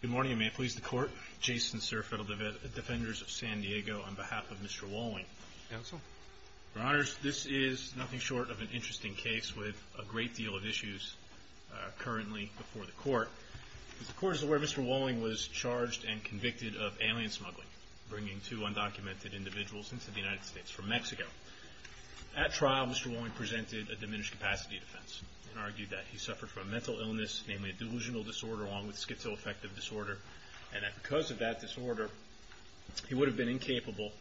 Good morning, and may it please the Court. Jason Cerf, Federal Defenders of San Diego, on behalf of Mr. Wolling. Counsel. Your Honors, this is nothing short of an interesting case with a great deal of issues currently before the Court. The Court is aware Mr. Wolling was charged and convicted of alien smuggling, bringing two undocumented individuals into the United States from Mexico. At trial, Mr. Wolling presented a diminished capacity defense and argued that he suffered from a mental illness, namely a delusional disorder along with schizoaffective disorder, and that because of that disorder, he would have been incapable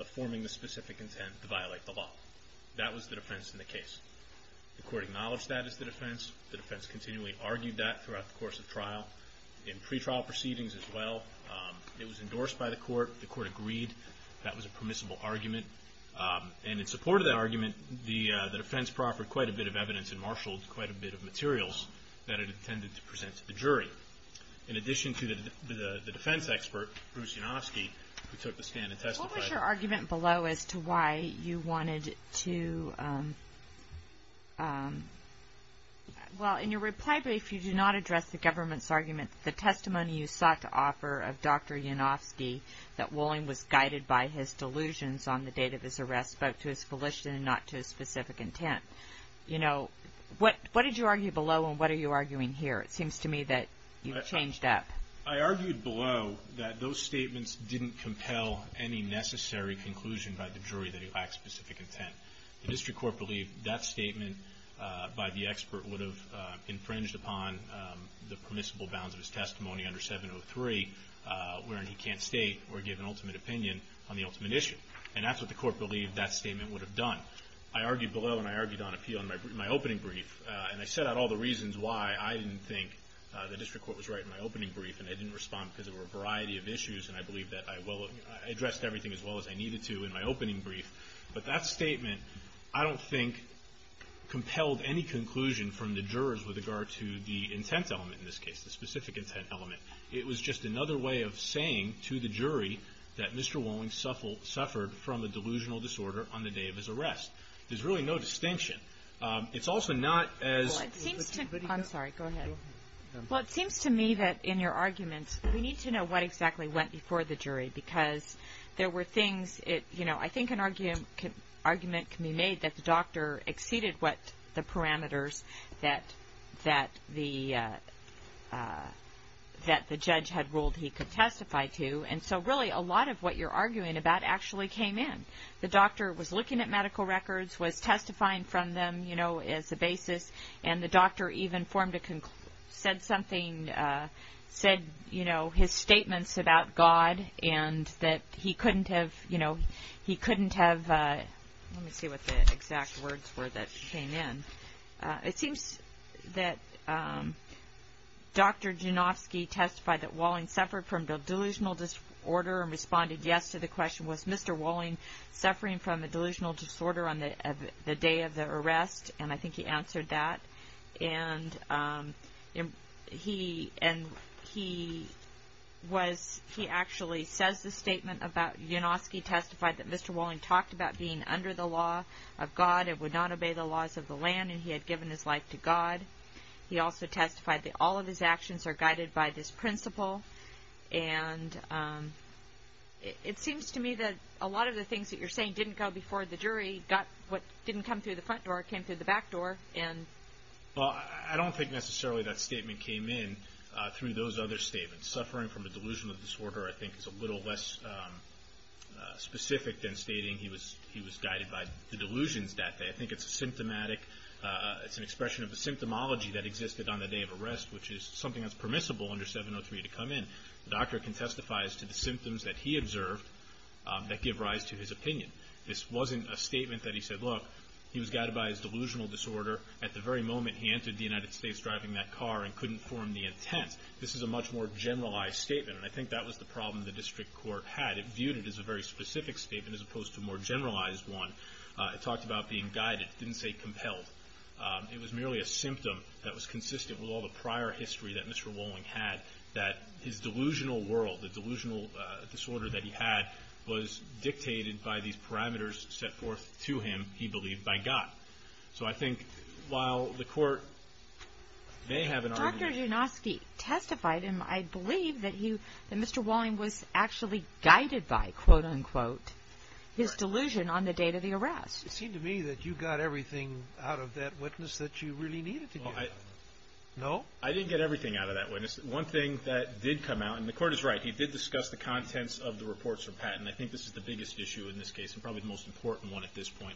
of forming the specific intent to violate the law. That was the defense in the case. The Court acknowledged that as the defense. The defense continually argued that throughout the course of trial. In pretrial proceedings as well, it was endorsed by the Court. The argument, and in support of that argument, the defense proffered quite a bit of evidence and marshaled quite a bit of materials that it intended to present to the jury. In addition to the defense expert, Bruce Yanovsky, who took the stand and testified. What was your argument below as to why you wanted to, well in your reply brief, you did not address the government's argument, the testimony you sought to offer of Dr. Yanovsky that Wolling was guided by his delusions on the date of his arrest, but to his volition and not to his specific intent. You know, what did you argue below and what are you arguing here? It seems to me that you've changed up. I argued below that those statements didn't compel any necessary conclusion by the jury that he lacked specific intent. The District Court believed that statement by the expert would have infringed upon the permissible bounds of his testimony under 703, wherein he can't state or give an ultimate opinion on the ultimate issue. And that's what the court believed that statement would have done. I argued below and I argued on appeal in my opening brief. And I set out all the reasons why I didn't think the District Court was right in my opening brief and I didn't respond because there were a variety of issues and I believe that I addressed everything as well as I needed to in my opening brief. But that statement, I don't think, compelled any conclusion from the jurors with regard to the intent element in this case, the specific intent element. It was just another way of saying to the jury that Mr. Wolling suffered from a delusional disorder on the day of his arrest. There's really no distinction. It's also not as... Well, it seems to... I'm sorry, go ahead. Well, it seems to me that in your arguments, we need to know what exactly went before the jury because there were things, you know, I think an argument can be made that the doctor exceeded what the parameters that the judge had ruled he could testify to. And so really a lot of what you're arguing about actually came in. The doctor was looking at medical records, was testifying from them, you know, as a basis, and the doctor even said something, said, you know, his statements about God and that he couldn't have, you know, he couldn't have, you know, the medical records were that came in. It seems that Dr. Junofsky testified that Wolling suffered from a delusional disorder and responded yes to the question, was Mr. Wolling suffering from a delusional disorder on the day of the arrest? And I think he answered that. And he was, he actually says the statement about, Junofsky testified that Mr. Wolling talked about being under the law of God and would not obey the laws of the land and he had given his life to God. He also testified that all of his actions are guided by this principle. And it seems to me that a lot of the things that you're saying didn't go before the jury, got what didn't come through the front door, came through the back door. Well, I don't think necessarily that statement came in through those other statements. Suffering from a delusional disorder, I think, is a little less specific than stating he was guided by the delusions that day. I think it's a symptomatic, it's an expression of the symptomology that existed on the day of arrest, which is something that's permissible under 703 to come in. The doctor can testify as to the symptoms that he observed that give rise to his opinion. This wasn't a statement that he said, look, he was guided by his delusional disorder at the very moment he entered the United States driving that car and couldn't form the intent. This is a much more generalized statement. And I think that was the problem the district court had. It viewed it as a very specific statement as opposed to a more generalized one. It talked about being guided. It didn't say compelled. It was merely a symptom that was consistent with all the prior history that Mr. Walling had, that his delusional world, the delusional disorder that he had, was dictated by these parameters set forth to him, he believed, by God. So I think while the court may have an argument that Mr. Janoski testified, and I believe that Mr. Walling was actually guided by, quote unquote, his delusion on the date of the arrest. It seemed to me that you got everything out of that witness that you really needed to get. No? I didn't get everything out of that witness. One thing that did come out, and the court is right, he did discuss the contents of the reports for patent. I think this is the biggest issue in this case and probably the most important one at this point.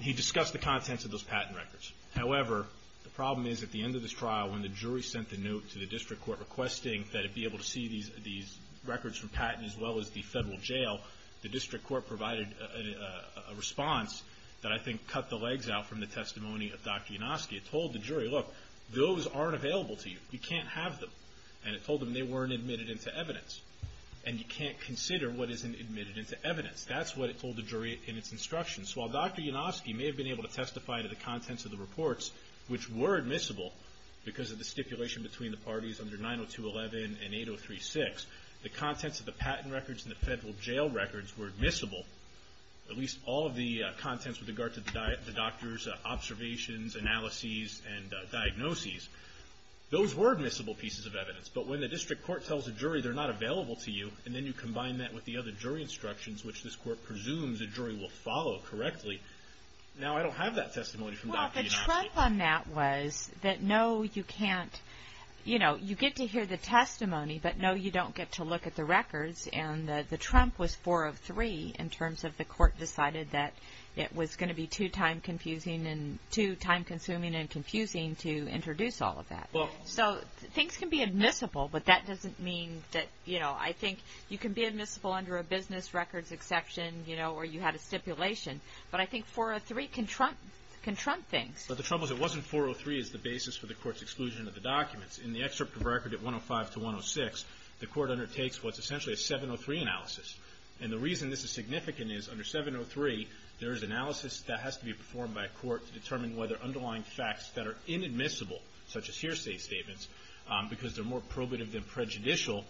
He discussed the contents of those patent records. However, the problem is at the end of this trial when the jury sent the note to the district court requesting that it be able to see these records from patent as well as the federal jail, the district court provided a response that I think cut the legs out from the testimony of Dr. Janoski. It told the jury, look, those aren't available to you. You can't have them. And it told them they weren't admitted into evidence. And you can't consider what isn't admitted into evidence. That's what it told the jury in its instructions. While Dr. Janoski may have been able to testify to the contents of the reports, which were admissible because of the stipulation between the parties under 902.11 and 803.6, the contents of the patent records and the federal jail records were admissible, at least all of the contents with regard to the doctor's observations, analyses, and diagnoses. Those were admissible pieces of evidence. But when the district court tells the jury they're not available to you and then you combine that with the other jury instructions which this court presumes the jury will follow correctly, now I don't have that testimony from Dr. Janoski. Well, the trump on that was that no, you can't, you know, you get to hear the testimony, but no, you don't get to look at the records. And the trump was four of three in terms of the court decided that it was going to be too time confusing and too time consuming and confusing to introduce all of that. So things can be admissible, but that doesn't mean that, you know, I think you can be admissible under a business records exception, you know, or you had a stipulation. But I think 403 can trump things. But the trouble is it wasn't 403 as the basis for the court's exclusion of the documents. In the excerpt of record at 105 to 106, the court undertakes what's essentially a 703 analysis. And the reason this is significant is under 703, there is analysis that has to be performed by a court to determine whether underlying facts that are inadmissible, such as hearsay statements, because they're more probative than prejudicial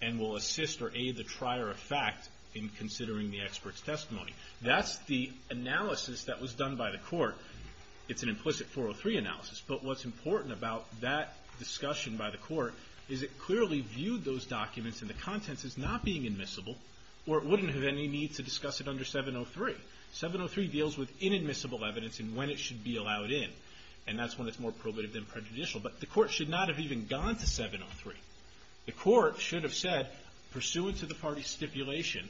and will assist or aid the trier of fact in considering the expert's testimony. That's the analysis that was done by the court. It's an implicit 403 analysis. But what's important about that discussion by the court is it clearly viewed those documents and the contents as not being admissible or it wouldn't have any need to discuss it under 703. 703 deals with inadmissible evidence and when it should be allowed in. And that's when it's more probative than prejudicial. But the court should not have even gone to 703. The court should have said, pursuant to the party's stipulation,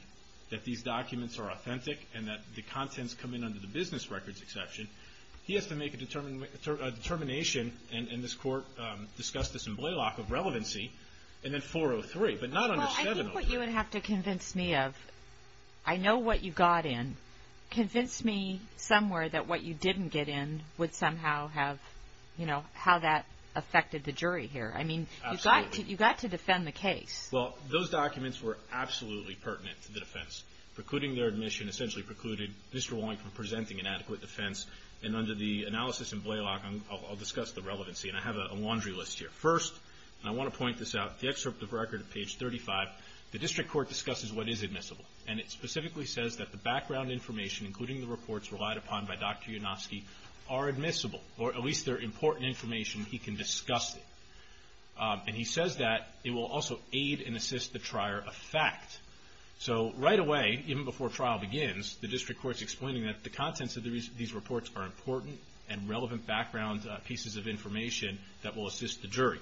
that these documents are authentic and that the contents come in under the business records exception. He has to make a determination, and this court discussed this in Blaylock, of relevancy, and then 403. But not under 703. Well, I think what you would have to convince me of, I know what you got in. Convince me somewhere that what you didn't get in would somehow have, you know, how that affected the jury here. I mean, you got to defend the case. Well, those documents were absolutely pertinent to the defense. Precluding their admission essentially precluded Mr. Woynk from presenting an adequate defense. And under the analysis in Blaylock, I'll discuss the relevancy. And I have a laundry list here. First, and I want to point this out, the excerpt of record at page 35, the district court discusses what is admissible. And it specifically says that the background information, including the evidence provided by Dr. Yunofsky, are admissible, or at least they're important information he can discuss it. And he says that it will also aid and assist the trier of fact. So right away, even before trial begins, the district court's explaining that the contents of these reports are important and relevant background pieces of information that will assist the jury.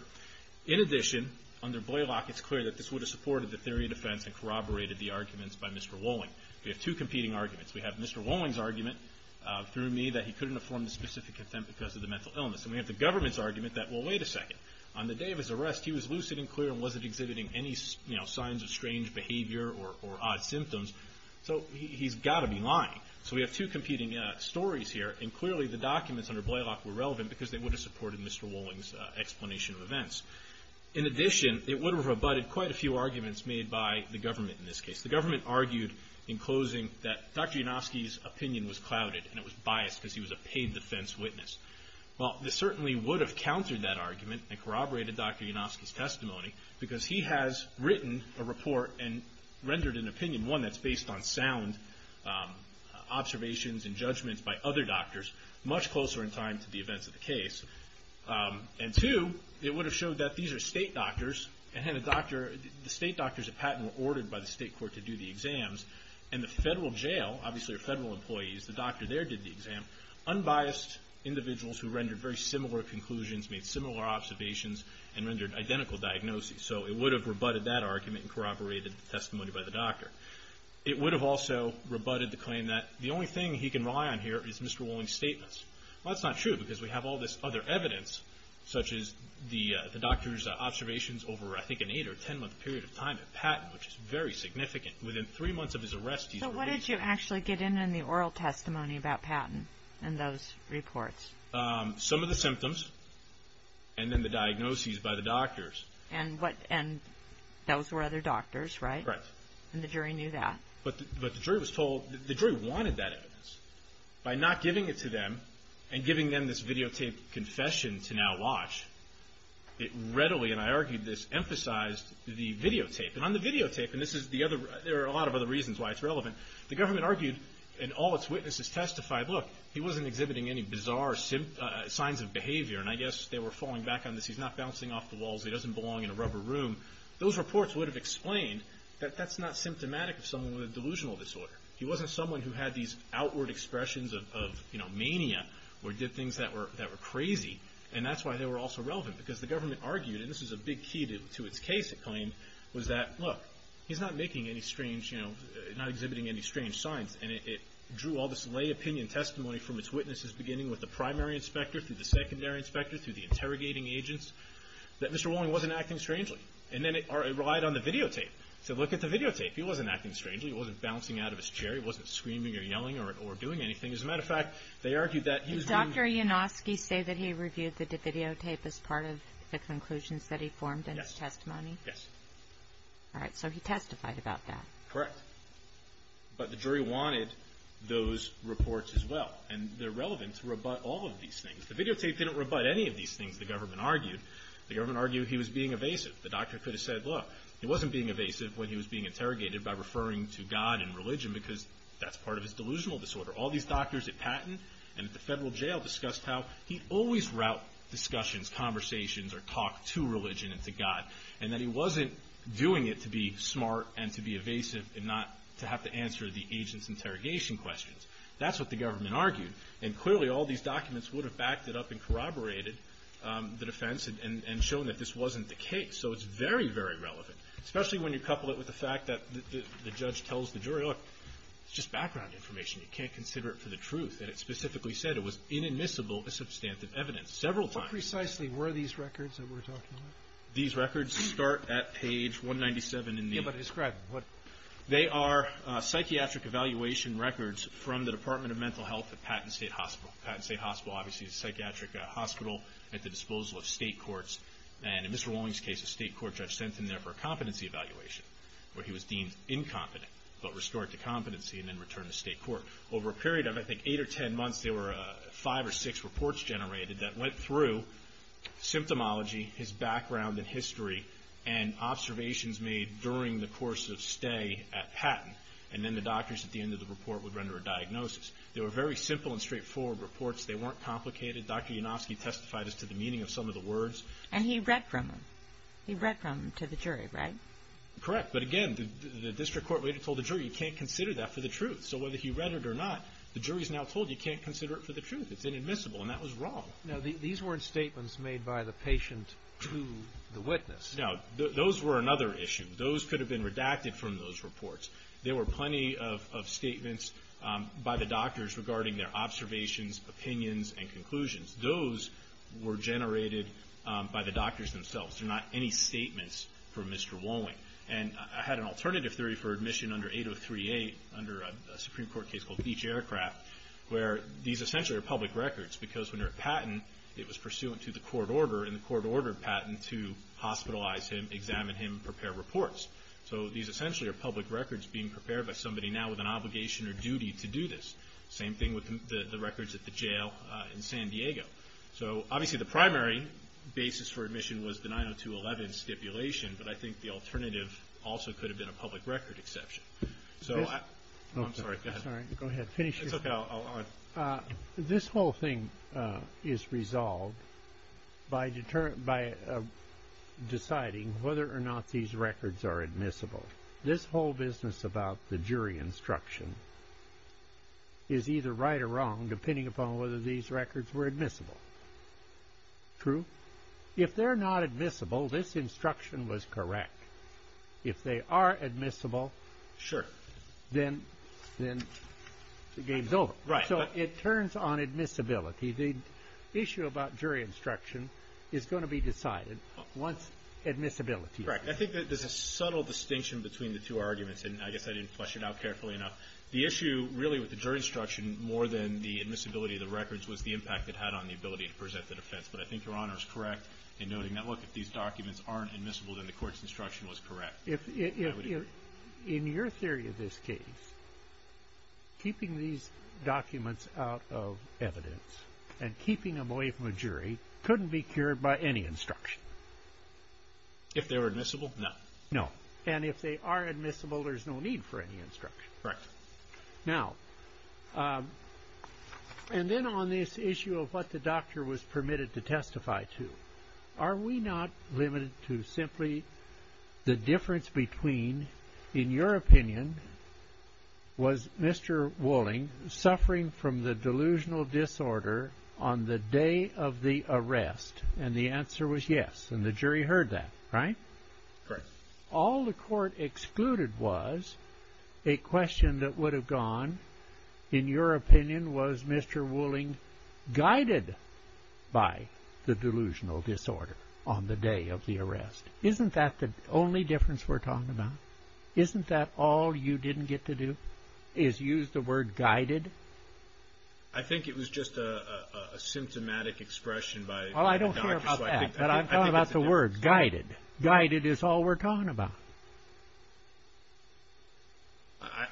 In addition, under Blaylock, it's clear that this would have supported the theory of defense and corroborated the arguments by Mr. Woynk. We have two competing arguments. We have Mr. Woynk's argument, through me, that he couldn't have formed a specific attempt because of the mental illness. And we have the government's argument that, well, wait a second. On the day of his arrest, he was lucid and clear and wasn't exhibiting any signs of strange behavior or odd symptoms. So he's got to be lying. So we have two competing stories here. And clearly, the documents under Blaylock were relevant because they would have supported Mr. Woynk's explanation of events. In addition, it would have rebutted quite a few arguments made by the government in this case. The government argued in closing that Dr. Yanofsky's opinion was clouded and it was biased because he was a paid defense witness. Well, this certainly would have countered that argument and corroborated Dr. Yanofsky's testimony because he has written a report and rendered an opinion, one, that's based on sound observations and judgments by other doctors, much closer in time to the events of the case. And two, it would have showed that these are state doctors and the state doctors at Patton were ordered by the state court to do the exams. And the federal jail, obviously federal employees, the doctor there did the exam, unbiased individuals who rendered very similar conclusions, made similar observations, and rendered identical diagnoses. So it would have rebutted that argument and corroborated the testimony by the doctor. It would have also rebutted the claim that the only thing he can rely on here is Mr. Woynk's statements. Well, that's not true because we have all this other evidence, such as the doctor's seven-month period of time at Patton, which is very significant. Within three months of his arrest, he's released. So what did you actually get in in the oral testimony about Patton in those reports? Some of the symptoms and then the diagnoses by the doctors. And what, and those were other doctors, right? Right. And the jury knew that? But the jury was told, the jury wanted that evidence. By not giving it to them and giving them this videotaped confession to now watch, it readily, and I argued this, emphasized the videotape. And on the videotape, and this is the other, there are a lot of other reasons why it's relevant, the government argued and all its witnesses testified, look, he wasn't exhibiting any bizarre signs of behavior. And I guess they were falling back on this. He's not bouncing off the walls. He doesn't belong in a rubber room. Those reports would have explained that that's not symptomatic of someone with a delusional disorder. He wasn't someone who had these outward expressions of mania or did things that were crazy. And that's why they were also relevant, because the government argued, and this is a big key to its case, it claimed, was that, look, he's not making any strange, not exhibiting any strange signs. And it drew all this lay opinion testimony from its witnesses, beginning with the primary inspector, through the secondary inspector, through the interrogating agents, that Mr. Walling wasn't acting strangely. And then it relied on the videotape. So look at the videotape. He wasn't acting strangely. He wasn't bouncing out of his chair. He wasn't screaming or yelling or doing anything. As a matter of fact, they argued that he was being... Did Dr. Iannoski say that he reviewed the videotape as part of the conclusions that he formed in his testimony? Yes. All right. So he testified about that. Correct. But the jury wanted those reports as well. And they're relevant to rebut all of these things. The videotape didn't rebut any of these things, the government argued. The government argued he was being evasive. The doctor could have said, look, he wasn't being evasive when he was being interrogated by referring to God and religion, because that's part of his delusional disorder. All these doctors at Patton and at the federal jail discussed how he always route discussions, conversations, or talk to religion and to God, and that he wasn't doing it to be smart and to be evasive and not to have to answer the agent's interrogation questions. That's what the government argued. And clearly all these documents would have backed it up and corroborated the defense and shown that this was true. Especially when you couple it with the fact that the judge tells the jury, look, it's just background information. You can't consider it for the truth. And it specifically said it was inadmissible as substantive evidence. Several times. What precisely were these records that we're talking about? These records start at page 197 in the- Yeah, but describe them. What- They are psychiatric evaluation records from the Department of Mental Health at Patton State Hospital. Patton State Hospital, obviously, is a psychiatric hospital at the disposal of state courts. And in Mr. Walling's case, a state court judge sent him there for a competency evaluation where he was deemed incompetent, but restored to competency and then returned to state court. Over a period of, I think, eight or ten months, there were five or six reports generated that went through symptomology, his background and history, and observations made during the course of stay at Patton. And then the doctors at the end of the report would render a diagnosis. They were very simple and straightforward reports. They weren't complicated. Dr. Yanofsky testified as to the meaning of some of the words. And he read from them. He read from them to the jury, right? Correct. But again, the district court waited until the jury. You can't consider that for the truth. So whether he read it or not, the jury is now told you can't consider it for the truth. It's inadmissible. And that was wrong. Now, these weren't statements made by the patient to the witness. Now, those were another issue. Those could have been redacted from those reports. There were plenty of statements by the doctors regarding their observations, opinions, and conclusions. Those were generated by the doctors themselves. They're not any statements from Mr. Wolling. And I had an alternative theory for admission under 8038, under a Supreme Court case called Beach Aircraft, where these essentially are public records. Because when you're at Patton, it was pursuant to the court order, and the court ordered Patton to hospitalize him, examine him, and prepare reports. So these essentially are public records being prepared by somebody now with an obligation or duty to do this. Same thing with the records at the jail in San Diego. So obviously the primary basis for admission was the 90211 stipulation, but I think the alternative also could have been a public record exception. So I'm sorry, go ahead. Sorry, go ahead. Finish your... It's okay, I'll... This whole thing is resolved by deciding whether or not these records are admissible. This whole business about the jury instruction is either right or wrong, depending upon whether these records were admissible. True? If they're not admissible, this instruction was correct. If they are admissible, then the game's over. So it turns on admissibility. The issue about jury instruction is going to be decided once admissibility is decided. Correct. I think that there's a subtle distinction between the two arguments, and I guess I didn't flesh it out carefully enough. The issue really with the jury instruction more than the admissibility of the records was the impact it had on the ability to present the defense. But I think Your Honor is correct in noting that, look, if these documents aren't admissible, then the court's instruction was correct. In your theory of this case, keeping these documents out of evidence and keeping them away from a jury couldn't be cured by any instruction. If they were admissible, no. No. And if they are admissible, there's no need for any instruction. Correct. Now, and then on this issue of what the doctor was permitted to testify to, are we not limited to simply the difference between, in your opinion, was Mr. Wolling suffering from the delusional disorder? Yes. And the jury heard that, right? Correct. All the court excluded was a question that would have gone, in your opinion, was Mr. Wolling guided by the delusional disorder on the day of the arrest? Isn't that the only difference we're talking about? Isn't that all you didn't get to do is use the word guided? I think it was just a symptomatic expression by the doctor. I'm talking about the word guided. Guided is all we're talking about.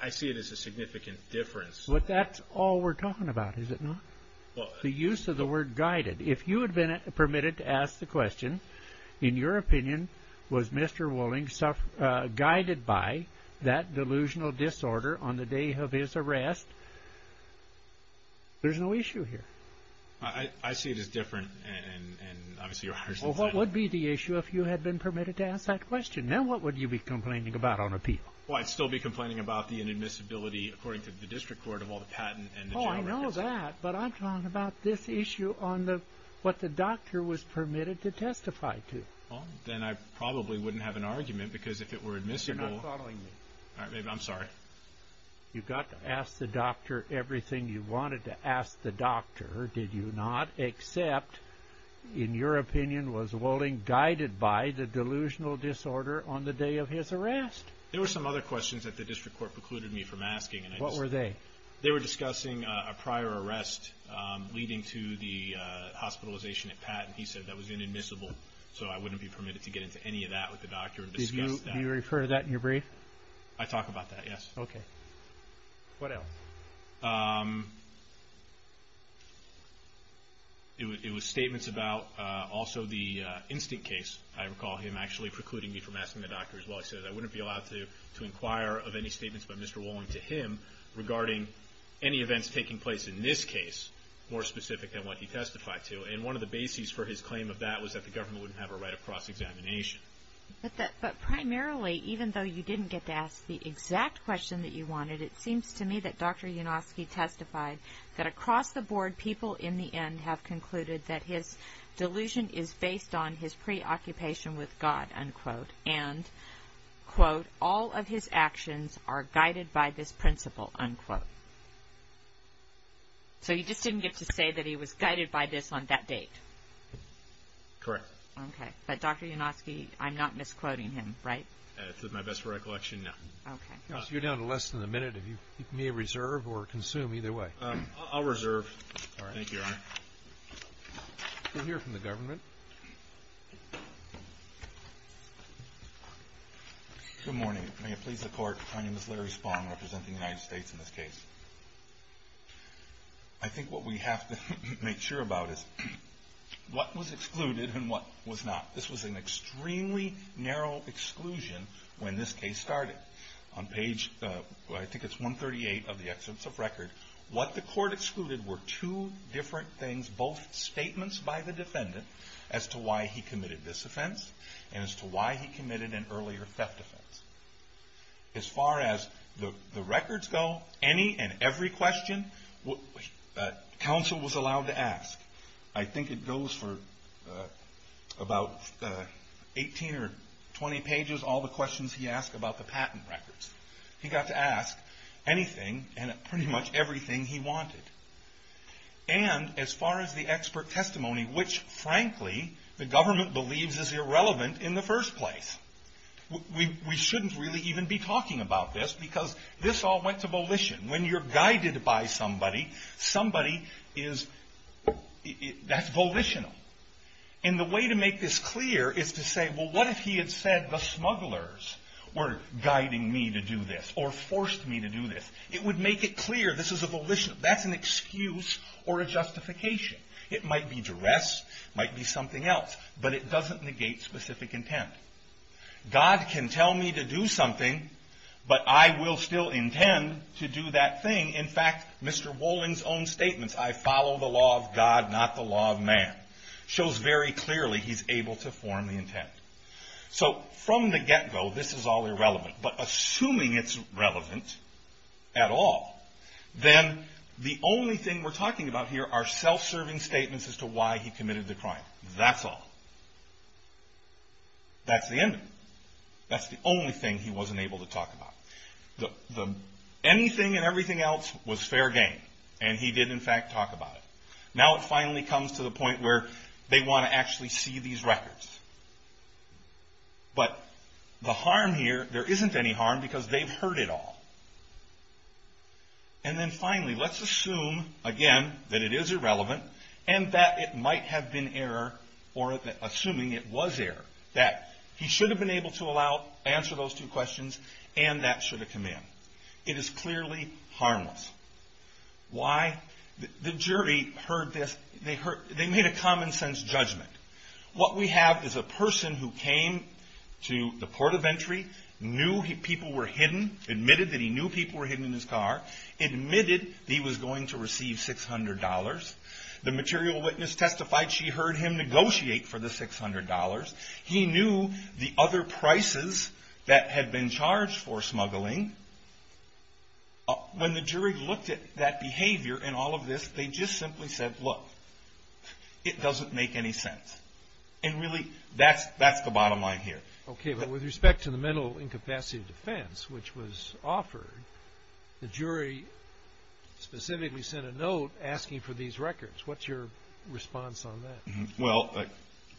I see it as a significant difference. But that's all we're talking about, is it not? The use of the word guided. If you had been permitted to ask the question, in your opinion, was Mr. Wolling guided by that delusional disorder on the day of his arrest, there's no issue here. I see it as different. What would be the issue if you had been permitted to ask that question? Then what would you be complaining about on appeal? I'd still be complaining about the inadmissibility, according to the district court, of all the patent and the jail records. I know that, but I'm talking about this issue on what the doctor was permitted to testify to. Then I probably wouldn't have an argument, because if it were admissible... You're not following me. I'm sorry. You got to ask the doctor everything you wanted to ask the doctor, did you not? Except, in your opinion, was Wolling guided by the delusional disorder on the day of his arrest? There were some other questions that the district court precluded me from asking. What were they? They were discussing a prior arrest leading to the hospitalization at Patton. He said that was inadmissible, so I wouldn't be permitted to get into any of that with the doctor and discuss that. Do you refer to that in your brief? I talk about that, yes. Okay. What else? It was statements about also the instinct case. I recall him actually precluding me from asking the doctor as well. He said I wouldn't be allowed to inquire of any statements by Mr. Wolling to him regarding any events taking place in this case more specific than what he testified to. One of the bases for his claim of that was that the government wouldn't have a right of cross-examination. But primarily, even though you didn't get to ask the exact question that you wanted, it seems to me that Dr. Unosky testified that across the board, people in the end have concluded that his delusion is based on his preoccupation with God, unquote, and, quote, all of his actions are guided by this principle, unquote. So you just didn't get to say that he was guided by this on that date? Correct. Okay. But Dr. Unosky, I'm not misquoting him, right? To my best recollection, no. Okay. You're down to less than a minute. You may reserve or consume either way. I'll reserve. Thank you, Your Honor. We'll hear from the government. Good morning. May it please the Court, my name is Larry Spong representing the United What was excluded and what was not. This was an extremely narrow exclusion when this case started. On page, I think it's 138 of the Excellence of Record, what the court excluded were two different things, both statements by the defendant as to why he committed this offense and as to why he committed an earlier theft offense. As far as the records go, any and every question, counsel was allowed to ask. I think it goes for about 18 or 20 pages, all the questions he asked about the patent records. He got to ask anything and pretty much everything he wanted. And as far as the expert testimony, which frankly, the government believes is irrelevant in the first place. We shouldn't really even be talking about this because this all went to volition. When you're guided by somebody, somebody is, that's volitional. And the way to make this clear is to say, well, what if he had said the smugglers were guiding me to do this or forced me to do this? It would make it clear this is a volitional. That's an excuse or a justification. It might be duress, it might be something else, but it doesn't negate specific intent. God can tell me to do something, but I will still intend to do that thing. In fact, Mr. Wolling's own statements, I follow the law of God, not the law of man, shows very clearly he's able to form the intent. So from the get-go, this is all irrelevant. But assuming it's relevant at all, then the only thing we're talking about here are self-serving statements as to why he committed the crime. That's all. That's the end of it. That's the only thing he wasn't able to talk about. The anything and everything else was fair game, and he did in fact talk about it. Now it finally comes to the point where they want to actually see these records. But the harm here, there isn't any harm because they've heard it all. And then finally, let's assume, again, that it is irrelevant, and that it might have been error, or assuming it was error. That he should have been able to answer those two questions, and that should have come in. It is clearly harmless. Why? The jury heard this, they made a common sense judgment. What we have is a person who came to the port of entry, knew people were hidden, admitted that he knew he received $600. The material witness testified she heard him negotiate for the $600. He knew the other prices that had been charged for smuggling. When the jury looked at that behavior and all of this, they just simply said, look, it doesn't make any sense. And really, that's the bottom line here. Okay, but with respect to the mental incapacity of defense, which was offered, the jury specifically sent a note asking for these records. What's your response on that? Well,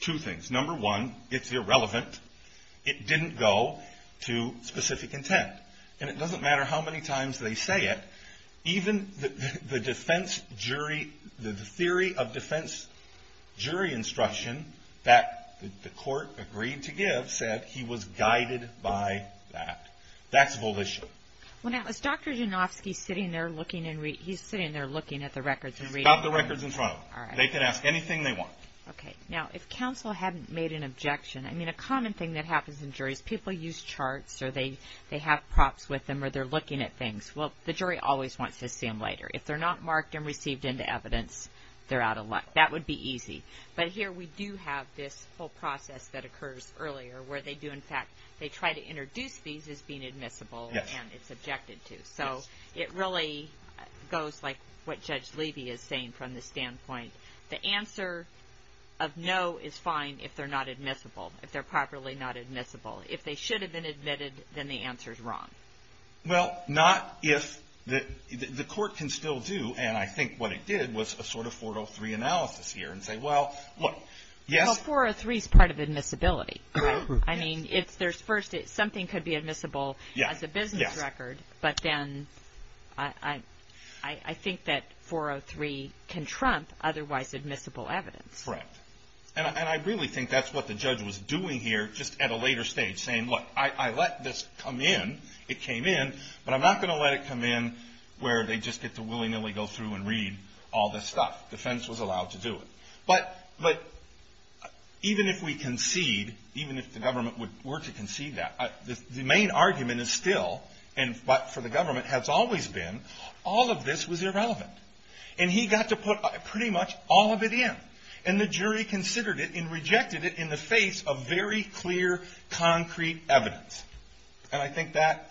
two things. Number one, it's irrelevant. It didn't go to specific intent. And it doesn't matter how many times they say it, even the defense jury, the theory of defense jury instruction that the court agreed to give said he was guided by that. That's volition. Now, is Dr. Janofsky sitting there looking at the records? He's got the records in front of him. They can ask anything they want. Okay. Now, if counsel hadn't made an objection, I mean, a common thing that happens in juries, people use charts or they have props with them or they're looking at things. Well, the jury always wants to see them later. If they're not marked and received into evidence, they're out of luck. That would be easy. But here we do have this whole process that occurs earlier where they do, in fact, they try to introduce these as being admissible and it's objected to. So it really goes like what Judge Levy is saying from the standpoint. The answer of no is fine if they're not admissible, if they're properly not admissible. If they should have been admitted, then the answer is wrong. Well, not if the court can still do, and I think what it did was a sort of 403 analysis here and say, well, look, yes. Well, 403 is part of admissibility, right? I mean, if there's first something could be admissible as a business record, but then I think that 403 can trump otherwise admissible evidence. Correct. And I really think that's what the judge was doing here just at a later stage, saying, look, I let this come in. It came in, but I'm not going to let it come in where they just get to willy-nilly go through and read all this stuff. The defense was allowed to do it. But even if we concede, even if the government were to concede that, the main argument is still, and for the government has always been, all of this was irrelevant. And he got to put pretty much all of it in. And the jury considered it and rejected it in the face of very clear, concrete evidence. And I think that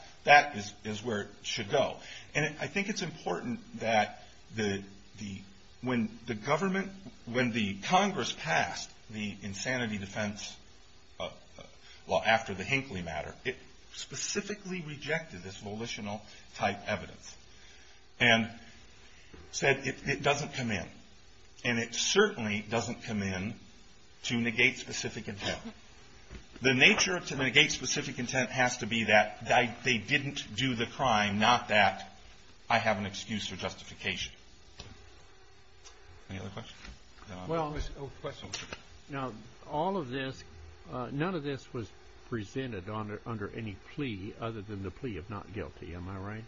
is where it should go. And I think it's important that when the government, when the Congress passed the insanity defense law after the Hinckley matter, it specifically rejected this volitional type evidence and said it doesn't come in. And it certainly doesn't come in to negate specific intent. The nature to negate specific intent has to be that they didn't do the crime, not that I have an excuse for justification. Any other questions? Well, all of this, none of this was presented under any plea other than the plea of not guilty. Am I right?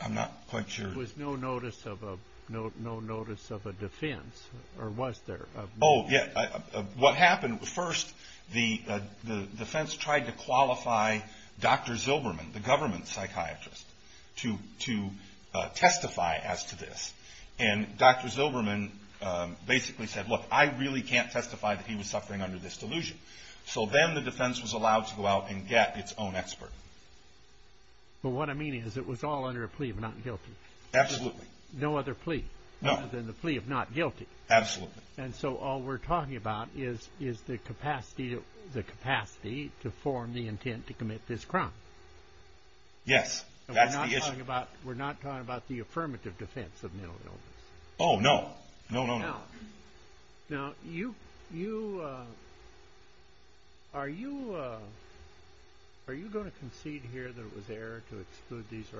I'm not quite sure. There was no notice of a defense, or was there? Oh, yeah. What happened, first, the defense tried to qualify Dr. Zilberman, the government psychiatrist, to testify as to this. And Dr. Zilberman basically said, look, I really can't testify that he was suffering under this delusion. So then the defense was allowed to go out and get its own expert. But what I mean is it was all under a plea of not guilty. Absolutely. No other plea other than the plea of not guilty. Absolutely. And so all we're talking about is the capacity to form the intent to commit this crime. Yes, that's the issue. We're not talking about the affirmative defense of mental illness. Oh, no. No, no, no. Now, are you going to concede here that it was error to exclude these records?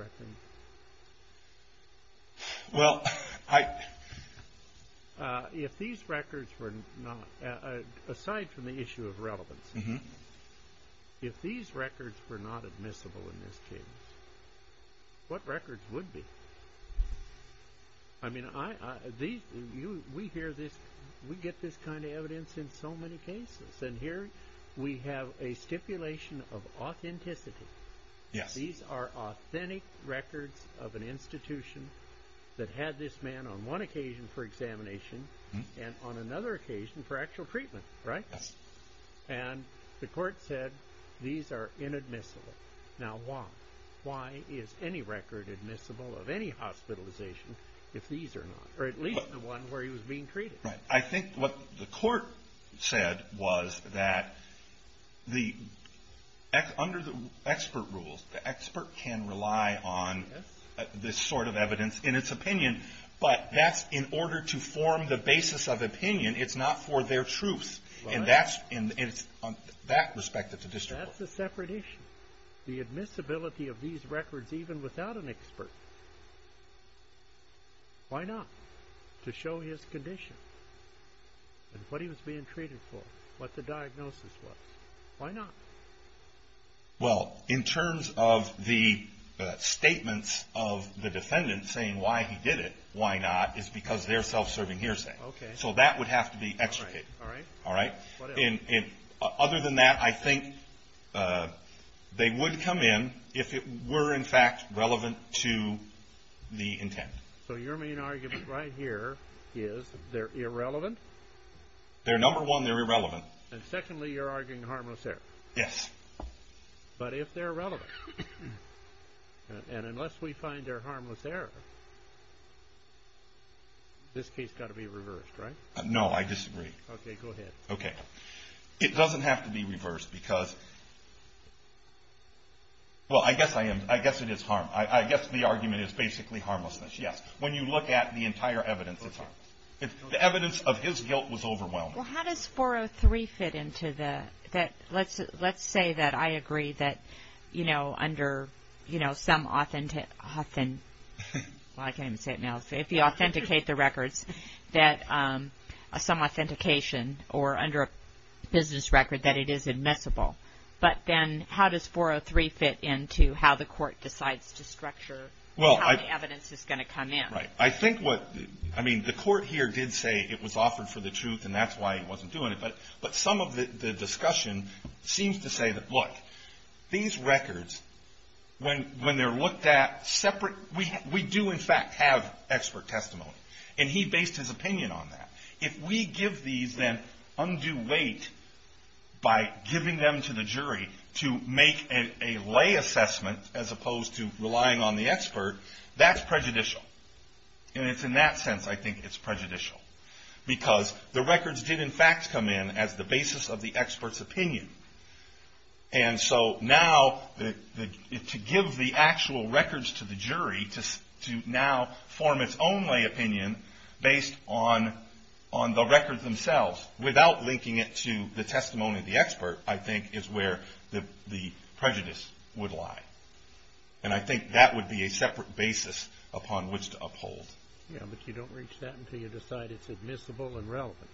Well, if these records were not, aside from the issue of relevance, if these records were not admissible in this case, what records would be? I mean, we get this kind of evidence in so many cases. And here we have a stipulation of authenticity. Yes. These are authentic records of an institution that had this man on one occasion for examination and on another occasion for actual treatment. Right? Yes. And the court said these are inadmissible. Now, why? Why is any record admissible of any hospitalization if these are not? Or at least the one where he was being treated. I think what the court said was that under the expert rules, the expert can rely on this sort of evidence in its opinion. But that's in order to form the basis of opinion. It's not for their truth. And it's on that respect that the district court. That's a separate issue. The admissibility of these records even without an expert. Why not? To show his condition and what he was being treated for, what the diagnosis was. Why not? Well, in terms of the statements of the defendant saying why he did it, why not, is because they're self-serving hearsay. Okay. So that would have to be extricated. All right. All right. And other than that, I think they would come in if it were, in fact, relevant to the intent. So your main argument right here is they're irrelevant? They're number one, they're irrelevant. And secondly, you're arguing harmless error. Yes. But if they're relevant, and unless we find they're harmless error, this case has got to be reversed, right? No, I disagree. Okay. Go ahead. Okay. It doesn't have to be reversed because, well, I guess it is harm. I guess the argument is basically harmlessness. Yes. When you look at the entire evidence, it's harm. The evidence of his guilt was overwhelming. Well, how does 403 fit into the – let's say that I agree that, you know, under some – well, I can't even say it now. If you authenticate the records, some authentication, or under a business record, that it is admissible. But then how does 403 fit into how the court decides to structure how the evidence is going to come in? Right. I think what – I mean, the court here did say it was offered for the truth, and that's why he wasn't doing it. But some of the discussion seems to say that, look, these records, when they're looked at separate – we do, in fact, have expert testimony. And he based his opinion on that. If we give these then undue weight by giving them to the jury to make a lay assessment as opposed to relying on the expert, that's prejudicial. And it's in that sense I think it's prejudicial. Because the records did, in fact, come in as the basis of the expert's opinion. And so now to give the actual records to the jury to now form its own lay opinion based on the records themselves, without linking it to the testimony of the expert, I think is where the prejudice would lie. And I think that would be a separate basis upon which to uphold. Yeah, but you don't reach that until you decide it's admissible and relevant.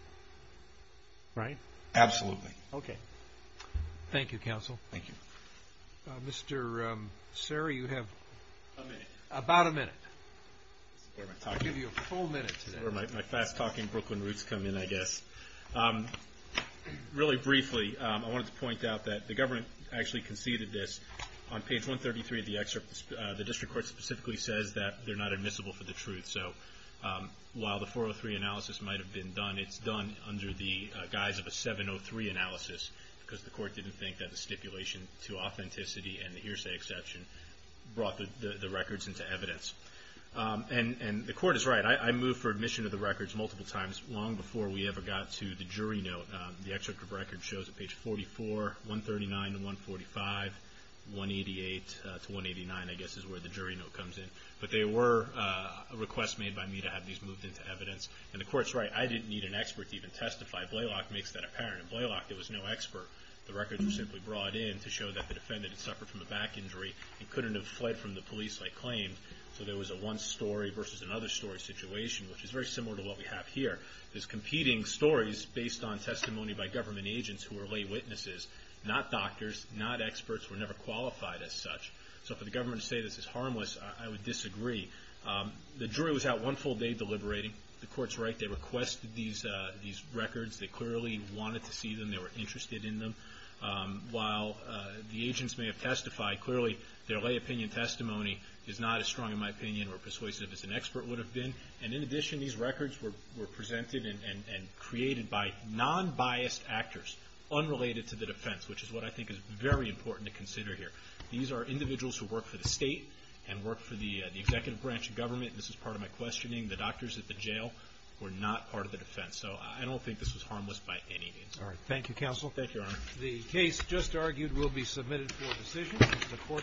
Right? Absolutely. Okay. Thank you, Counsel. Thank you. Mr. Serra, you have about a minute. I'll give you a full minute today. That's where my fast-talking Brooklyn roots come in, I guess. Really briefly, I wanted to point out that the government actually conceded this. On page 133 of the excerpt, the district court specifically says that they're not admissible for the truth. So while the 403 analysis might have been done, it's done under the guise of a 703 analysis, because the court didn't think that the stipulation to authenticity and the hearsay exception brought the records into evidence. And the court is right. I moved for admission of the records multiple times long before we ever got to the jury note. The excerpt of the record shows that page 44, 139 to 145, 188 to 189, I guess, is where the jury note comes in. But there were requests made by me to have these moved into evidence. And the court's right. I didn't need an expert to even testify. Blaylock makes that apparent. In Blaylock, there was no expert. The records were simply brought in to show that the defendant had suffered from a back injury and couldn't have fled from the police like claimed. So there was a one-story versus another-story situation, which is very similar to what we have here. There's competing stories based on testimony by government agents who were lay witnesses, not doctors, not experts, were never qualified as such. So for the government to say this is harmless, I would disagree. The jury was out one full day deliberating. The court's right. They requested these records. They clearly wanted to see them. They were interested in them. While the agents may have testified, clearly their lay opinion testimony is not as strong in my opinion or persuasive as an expert would have been. And in addition, these records were presented and created by non-biased actors unrelated to the defense, which is what I think is very important to consider here. These are individuals who work for the state and work for the executive branch of government. This is part of my questioning. The doctors at the jail were not part of the defense. So I don't think this was harmless by any means. All right. Thank you, counsel. Thank you, Your Honor. The case just argued will be submitted for decision. The court will adjourn.